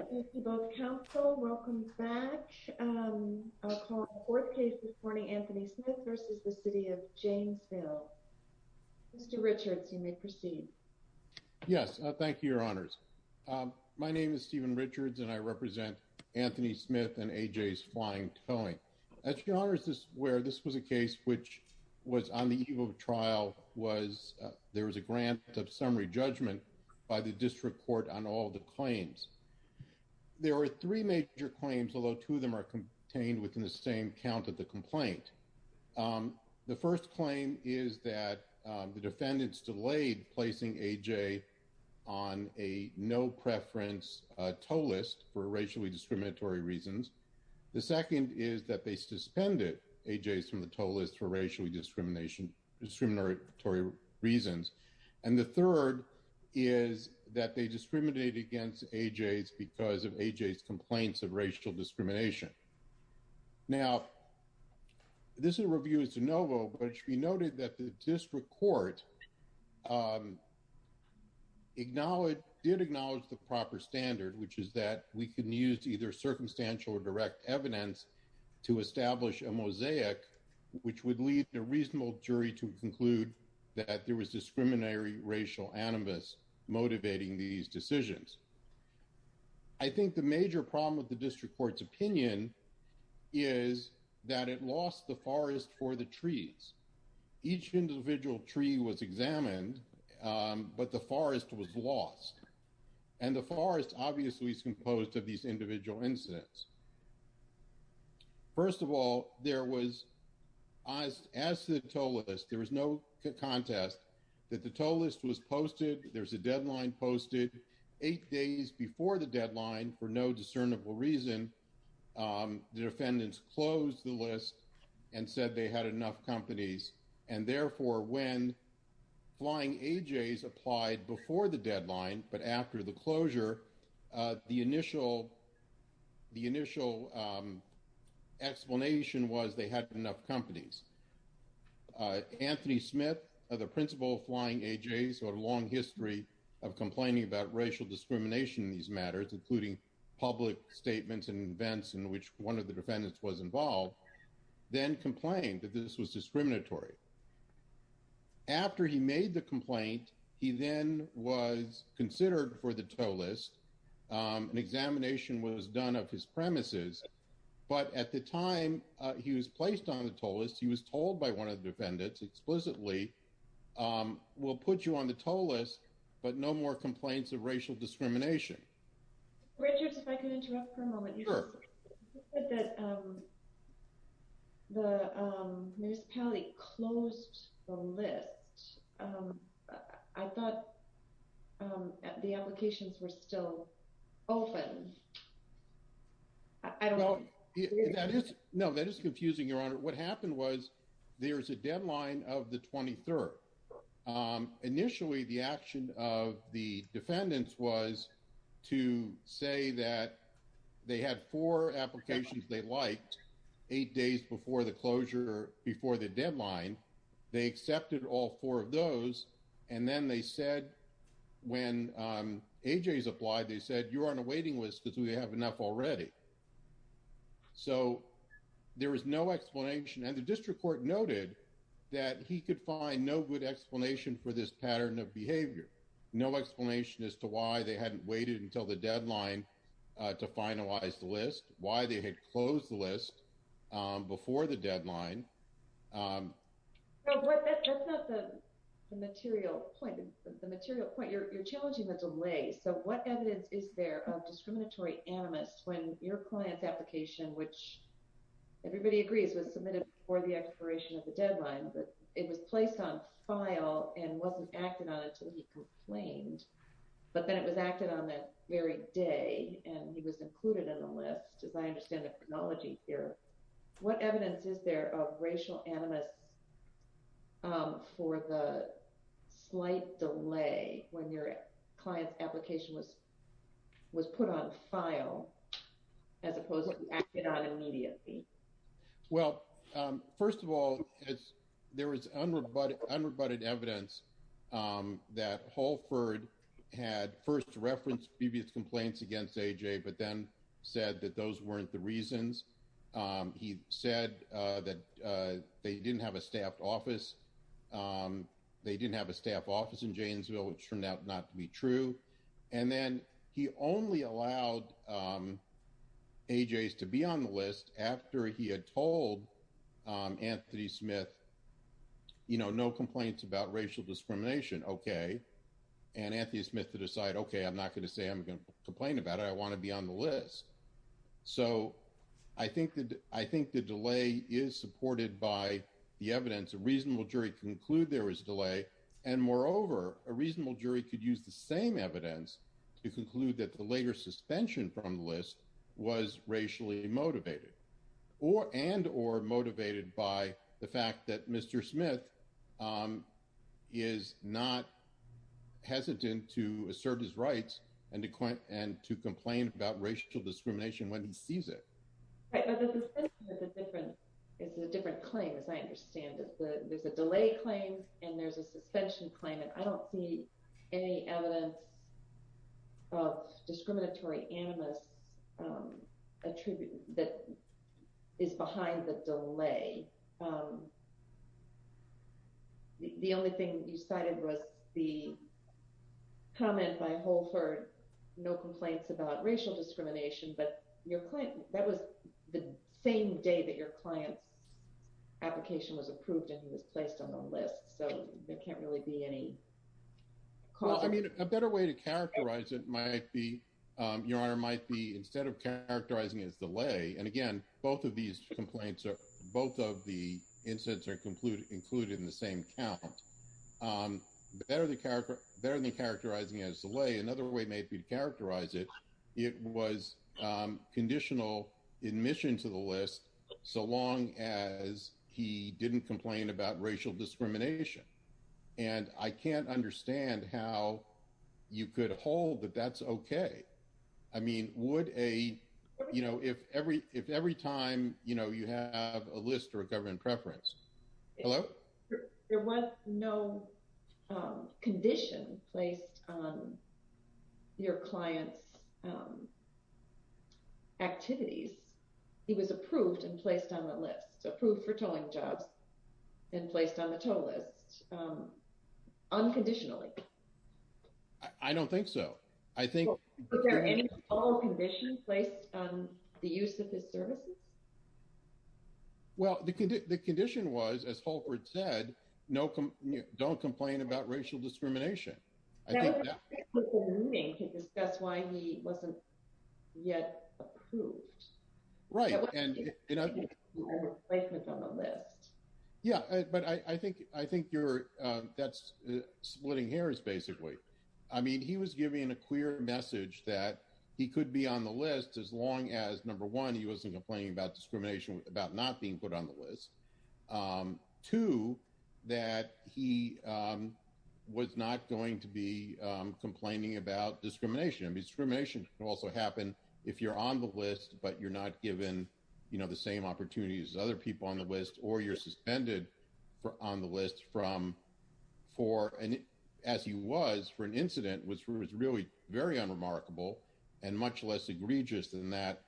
Welcome back. I'll call the fourth case this morning, Anthony Smith v. City of Janesville. Mr. Richards, you may proceed. Yes, thank you, Your Honors. My name is Stephen Richards, and I represent Anthony Smith and A.J.'s Flying Towing. Your Honors, this was a case which was on the eve of a trial. There was a grant of summary judgment by the District Court on all the claims. There were three major claims, although two of them are contained within the same count of the complaint. The first claim is that the defendants delayed placing A.J. on a no-preference tow list for racially discriminatory reasons. The second is that they suspended A.J.'s from the tow list for racially discriminatory reasons. And the third is that they discriminated against A.J.'s because of A.J.'s complaints of racial discrimination. Now, this is a review of de novo, but it should be noted that the District Court did acknowledge the proper standard, which is that we can use either circumstantial or direct evidence to establish a mosaic, which would lead a reasonable jury to conclude that there was discriminatory racial animus motivating these decisions. I think the major problem with the District Court's opinion is that it lost the forest for the trees. Each individual tree was examined, but the forest was lost. And the forest obviously is composed of these individual incidents. First of all, there was, as to the tow list, there was no contest that the tow list was posted. There was a deadline posted eight days before the deadline for no discernible reason. The defendants closed the list and said they had enough companies. And therefore, when flying A.J.'s applied before the deadline, but after the closure, the initial the initial explanation was they had enough companies. Anthony Smith, the principal flying A.J.'s, who had a long history of complaining about racial discrimination in these matters, including public statements and events in which one of the defendants was involved, then complained that this was discriminatory. After he made the complaint, he then was considered for the tow list. An examination was done of his premises. But at the time he was placed on the tow list, he was told by one of the defendants explicitly, we'll put you on the tow list, but no more complaints of racial discrimination. Richard, if I could interrupt for a moment. You said that the municipality closed the list. I thought the applications were still open. I don't know. No, that is confusing, Your Honor. What happened was there is a deadline of the 23rd. Initially, the action of the defendants was to say that they had four applications. They liked eight days before the closure, before the deadline. They accepted all four of those. And then they said when A.J.'s applied, they said you're on a waiting list because we have enough already. So there is no explanation. And the district court noted that he could find no good explanation for this pattern of behavior. No explanation as to why they hadn't waited until the deadline to finalize the list, why they had closed the list before the deadline. That's not the material point. The material point, you're challenging the delay. So what evidence is there of discriminatory animus when your client's application, which everybody agrees was submitted before the expiration of the deadline? But it was placed on file and wasn't acted on until he complained. But then it was acted on that very day and he was included in the list. As I understand the chronology here, what evidence is there of racial animus for the slight delay when your client's application was was put on file as opposed to acted on immediately? Well, first of all, there is unrebutted evidence that Holford had first referenced previous complaints against A.J., but then said that those weren't the reasons. He said that they didn't have a staff office. They didn't have a staff office in Janesville, which turned out not to be true. And then he only allowed A.J.'s to be on the list after he had told Anthony Smith, you know, no complaints about racial discrimination. OK. And Anthony Smith to decide, OK, I'm not going to say I'm going to complain about it. I want to be on the list. So I think that I think the delay is supported by the evidence. A reasonable jury conclude there is delay and moreover, a reasonable jury could use the same evidence to conclude that the later suspension from the list was racially motivated or and or motivated by the fact that Mr. Smith is not hesitant to assert his rights and to and to complain about racial discrimination when he sees it. It's a different claim, as I understand it. There's a delay claim and there's a suspension claim. And I don't see any evidence of discriminatory animus attribute that is behind the delay. The only thing you cited was the comment by Holford, no complaints about racial discrimination. But your client, that was the same day that your client's application was approved and was placed on the list. So there can't really be any. I mean, a better way to characterize it might be your honor might be instead of characterizing as delay. And again, both of these complaints are both of the incidents are included included in the same account. Better than character, better than characterizing as delay. Another way may be to characterize it. It was conditional admission to the list so long as he didn't complain about racial discrimination. And I can't understand how you could hold that that's okay. I mean, would a, you know, if every if every time you know you have a list or a government preference. There was no condition placed on your client's activities. He was approved and placed on the list approved for towing jobs and placed on the total list unconditionally. I don't think so. I think there are all conditions placed on the use of his services. Well, the condition was, as Holford said, no, don't complain about racial discrimination. I think that's why he wasn't yet approved. Right. Yeah, but I think I think you're that's splitting hairs, basically. I mean, he was giving a clear message that he could be on the list as long as number one, he wasn't complaining about discrimination about not being put on the list to that. He was not going to be complaining about discrimination. Discrimination can also happen if you're on the list, but you're not given the same opportunities as other people on the list or you're suspended on the list from four. And as he was for an incident, which was really very unremarkable and much less egregious than that,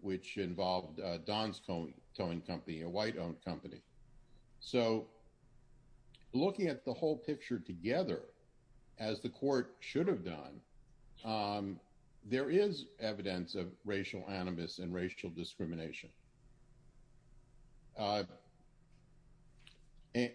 which involved Don's company, a white owned company. So. Looking at the whole picture together, as the court should have done, there is evidence of racial animus and racial discrimination.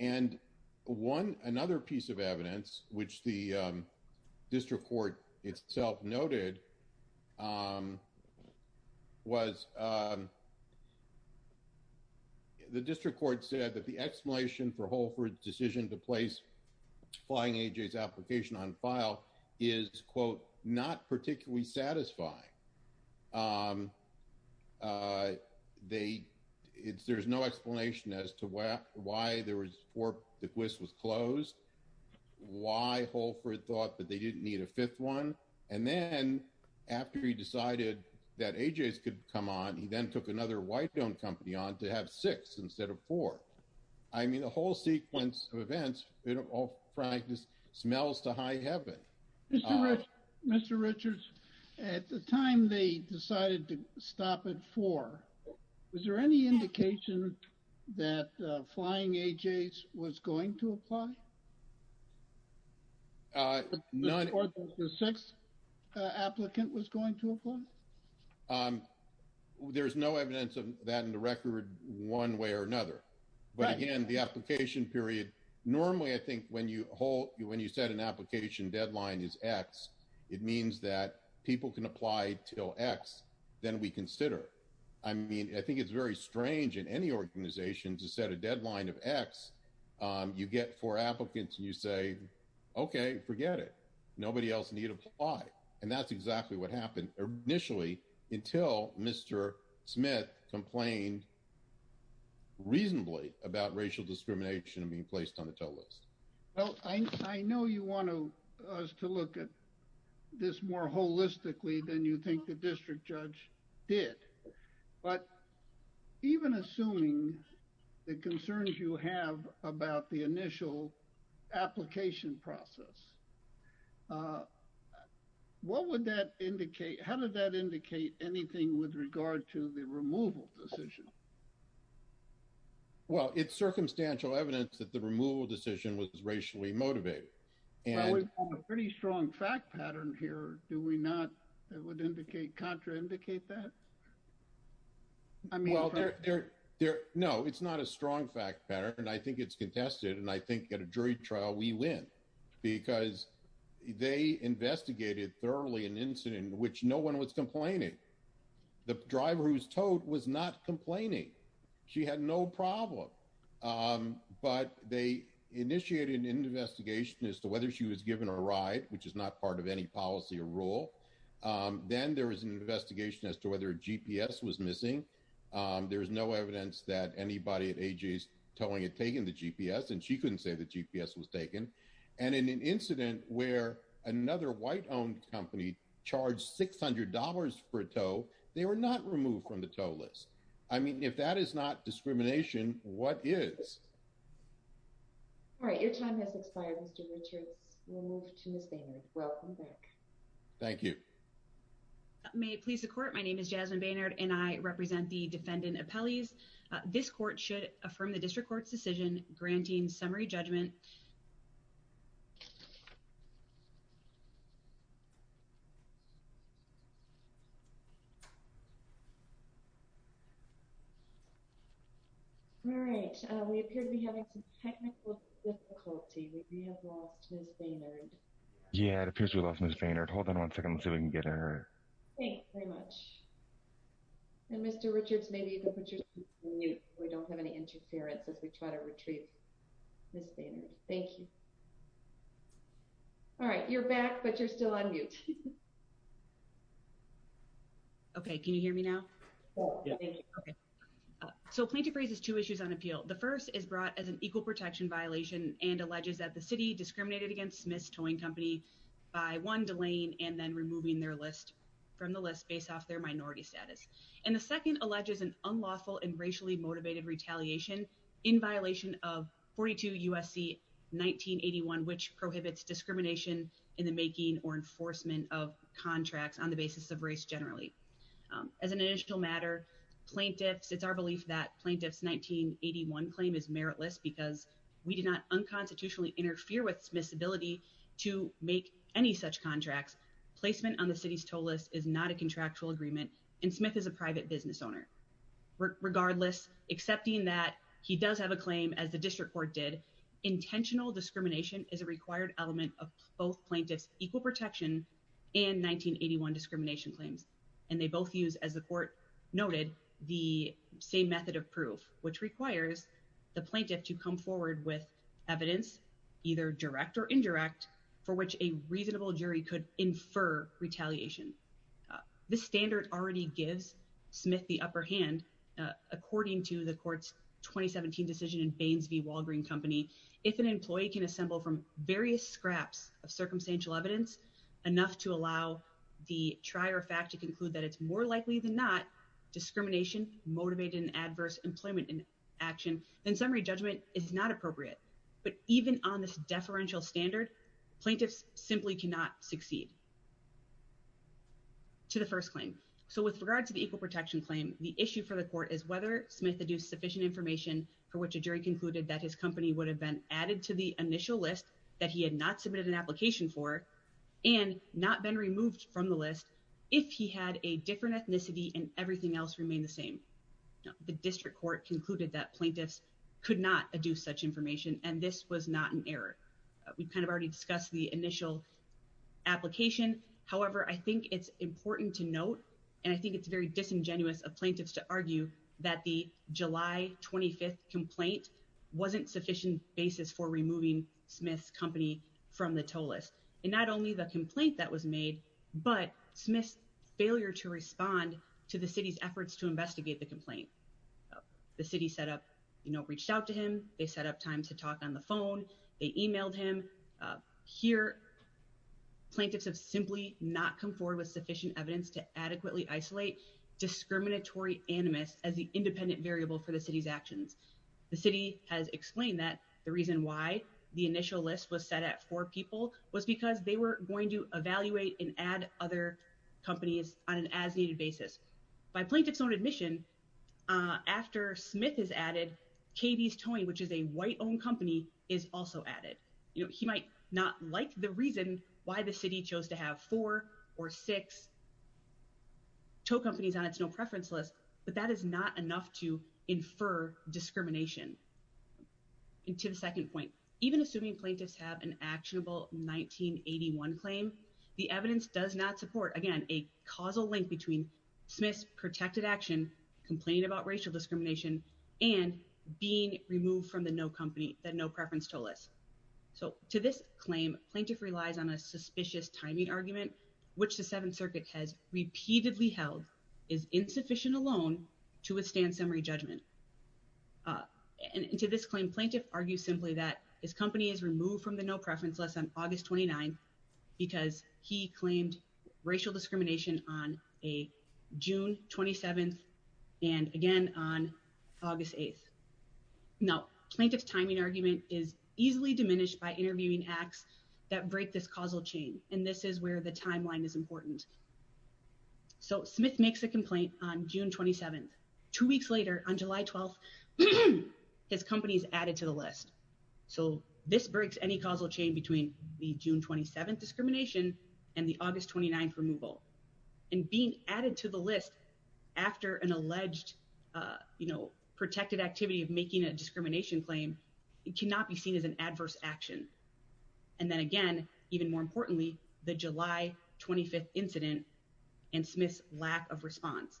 And one another piece of evidence, which the district court itself noted was. The district court said that the explanation for Holford's decision to place flying ages application on file is, quote, not particularly satisfying. They it's there's no explanation as to why there was for the quiz was closed, why Holford thought that they didn't need a fifth one. And then after he decided that ages could come on, he then took another white owned company on to have six instead of four. I mean, the whole sequence of events. They don't all practice smells to high heaven. Mr. Mr. Richards, at the time they decided to stop at four. Was there any indication that flying ages was going to apply? None of the six applicant was going to apply. There is no evidence of that in the record one way or another. But again, the application period normally, I think when you hold you, when you set an application deadline is X. It means that people can apply till X. Then we consider. I mean, I think it's very strange in any organization to set a deadline of X. You get four applicants and you say, OK, forget it. Nobody else need apply. And that's exactly what happened initially until Mr. Smith complained reasonably about racial discrimination being placed on the total list. Well, I know you want to us to look at this more holistically than you think the district judge did. But even assuming the concerns you have about the initial application process. What would that indicate? How did that indicate anything with regard to the removal decision? Well, it's circumstantial evidence that the removal decision was racially motivated. We have a pretty strong fact pattern here. Do we not? It would indicate contraindicate that. I mean, there there. No, it's not a strong fact pattern. And I think it's contested. And I think at a jury trial, we win because they investigated thoroughly an incident in which no one was complaining. The driver who was towed was not complaining. She had no problem. But they initiated an investigation as to whether she was given a ride, which is not part of any policy or rule. Then there was an investigation as to whether a GPS was missing. There is no evidence that anybody at A.J.'s towing had taken the GPS and she couldn't say the GPS was taken. And in an incident where another white owned company charged six hundred dollars for a tow, they were not removed from the total list. I mean, if that is not discrimination, what is? All right. Your time has expired, Mr. Richards. We'll move to Ms. Bainard. Welcome back. Thank you. May it please the court. My name is Jasmine Bainard and I represent the defendant appellees. This court should affirm the district court's decision granting summary judgment. All right. We appear to be having some technical difficulty. We may have lost Ms. Bainard. Yeah, it appears we lost Ms. Bainard. Hold on one second so we can get her. Thank you very much. And Mr. Richards, maybe you can put your. We don't have any interference as we try to retrieve Ms. Bainard. Thank you. All right. You're back, but you're still on mute. OK, can you hear me now? So plaintiff raises two issues on appeal. The first is brought as an equal protection violation and alleges that the city discriminated against Smith's Towing Company by one delaying and then removing their list from the list based off their minority status. And the second alleges an unlawful and racially motivated retaliation in violation of 42 USC 1981, which prohibits discrimination in the making or enforcement of contracts on the basis of race generally. As an initial matter, plaintiffs it's our belief that plaintiffs 1981 claim is meritless because we did not unconstitutionally interfere with Smith's ability to make any such contracts. Placement on the city's toll list is not a contractual agreement and Smith is a private business owner. Regardless, accepting that he does have a claim as the district court did intentional discrimination is a required element of both plaintiffs equal protection and 1981 discrimination claims. And they both use as the court noted the same method of proof, which requires the plaintiff to come forward with evidence, either direct or indirect for which a reasonable jury could infer retaliation. This standard already gives Smith the upper hand, according to the court's 2017 decision in Baines v. Walgreen Company. If an employee can assemble from various scraps of circumstantial evidence, enough to allow the trier fact to conclude that it's more likely than not discrimination motivated and adverse employment in action, then summary judgment is not appropriate. But even on this deferential standard, plaintiffs simply cannot succeed to the first claim. So with regards to the equal protection claim, the issue for the court is whether Smith to do sufficient information for which a jury concluded that his company would have been added to the initial list that he had not submitted an application for and not been removed from the list. If he had a different ethnicity and everything else remained the same. The district court concluded that plaintiffs could not do such information and this was not an error. We kind of already discussed the initial application. However, I think it's important to note, and I think it's very disingenuous of plaintiffs to argue that the July 25 complaint wasn't sufficient basis for removing Smith's company from the toll list. And not only the complaint that was made, but Smith's failure to respond to the city's efforts to investigate the complaint. The city set up, you know, reached out to him, they set up time to talk on the phone, they emailed him. Here, plaintiffs have simply not come forward with sufficient evidence to adequately isolate discriminatory animus as the independent variable for the city's actions. The city has explained that the reason why the initial list was set at four people was because they were going to evaluate and add other companies on an as needed basis. By plaintiff's own admission, after Smith is added, KD's Towing, which is a white owned company, is also added. You know, he might not like the reason why the city chose to have four or six tow companies on its no preference list, but that is not enough to infer discrimination. And to the second point, even assuming plaintiffs have an actionable 1981 claim, the evidence does not support, again, a causal link between Smith's protected action, complaining about racial discrimination, and being removed from the no company, the no preference toll list. So to this claim, plaintiff relies on a suspicious timing argument, which the Seventh Circuit has repeatedly held is insufficient alone to withstand summary judgment. And to this claim, plaintiff argues simply that his company is removed from the no preference list on August 29, because he claimed racial discrimination on a June 27, and again on August 8. Now, plaintiff's timing argument is easily diminished by interviewing acts that break this causal chain, and this is where the timeline is important. So Smith makes a complaint on June 27. Two weeks later, on July 12, his company is added to the list. So this breaks any causal chain between the June 27 discrimination and the August 29 removal, and being added to the list after an alleged, you know, protected activity of making a discrimination claim, it cannot be seen as an adverse action. And then again, even more importantly, the July 25 incident and Smith's lack of response.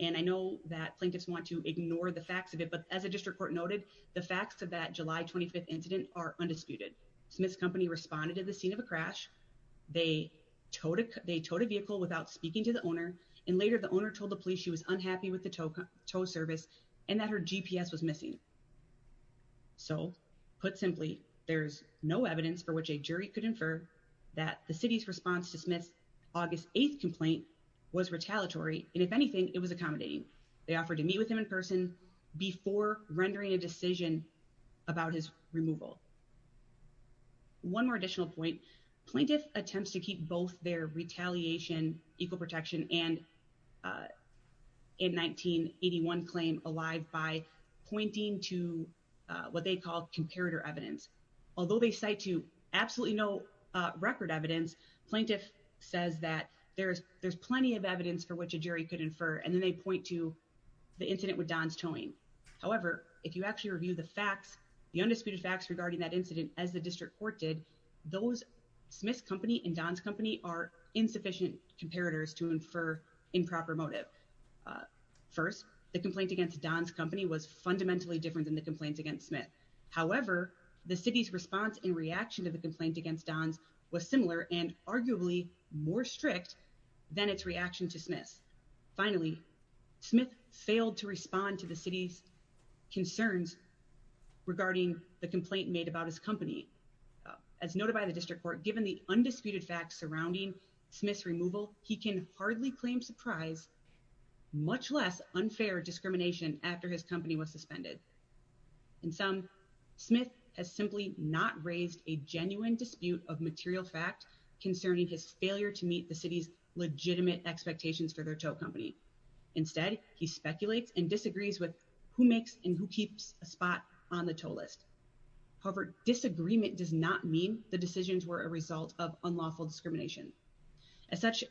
And I know that plaintiffs want to ignore the facts of it, but as a district court noted, the facts of that July 25 incident are undisputed. Smith's company responded to the scene of a crash. They towed a vehicle without speaking to the owner, and later the owner told the police she was unhappy with the tow service, and that her GPS was missing. So, put simply, there's no evidence for which a jury could infer that the city's response to Smith's August 8 complaint was retaliatory, and if anything, it was accommodating. They offered to meet with him in person before rendering a decision about his removal. One more additional point. Plaintiff attempts to keep both their retaliation, equal protection, and a 1981 claim alive by pointing to what they call comparator evidence. Although they cite to absolutely no record evidence, plaintiff says that there's plenty of evidence for which a jury could infer, and then they point to the incident with Don's towing. However, if you actually review the facts, the undisputed facts regarding that incident as the district court did, those Smith's company and Don's company are insufficient comparators to infer improper motive. First, the complaint against Don's company was fundamentally different than the complaints against Smith. However, the city's response and reaction to the complaint against Don's was similar and arguably more strict than its reaction to Smith's. Finally, Smith failed to respond to the city's concerns regarding the complaint made about his company. As noted by the district court, given the undisputed facts surrounding Smith's removal, he can hardly claim surprise, much less unfair discrimination after his company was suspended. In sum, Smith has simply not raised a genuine dispute of material fact concerning his failure to meet the city's legitimate expectations for their tow company. Instead, he speculates and disagrees with who makes and who keeps a spot on the tow list. However, disagreement does not mean the decisions were a result of unlawful discrimination. As such,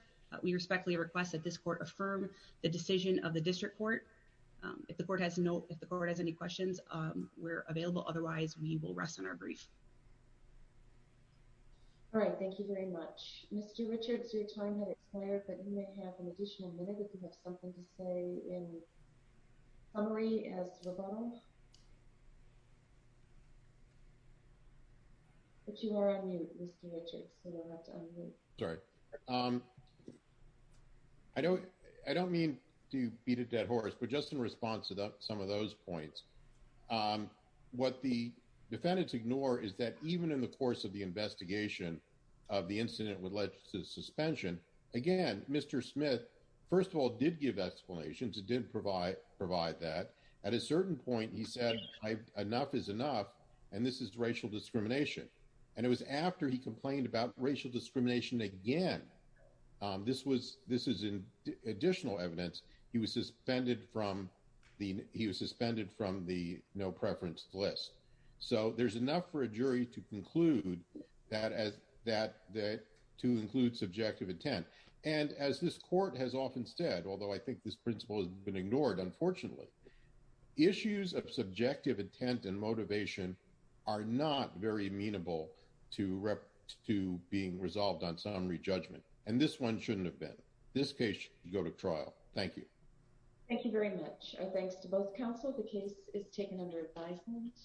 we respectfully request that this court affirm the decision of the district court. If the court has any questions, we're available. Otherwise, we will rest on our brief. All right. Thank you very much. Mr. Richards, your time has expired, but you may have an additional minute if you have something to say in summary as well. But you are on mute, Mr. Richards. Sorry. I don't I don't mean to beat a dead horse, but just in response to some of those points, what the defendants ignore is that even in the course of the investigation of the incident with legislative suspension, again, Mr. Smith, first of all, did give explanations. It did provide provide that at a certain point. He said enough is enough. And this is racial discrimination. And it was after he complained about racial discrimination again. This was this is additional evidence. He was suspended from the he was suspended from the no preference list. So there's enough for a jury to conclude that as that that to include subjective intent. And as this court has often said, although I think this principle has been ignored, unfortunately, issues of subjective intent and motivation are not very amenable to to being resolved on summary judgment. And this one shouldn't have been this case. You go to trial. Thank you. Thank you very much. Thanks to both counsel. The case is taken under advisement.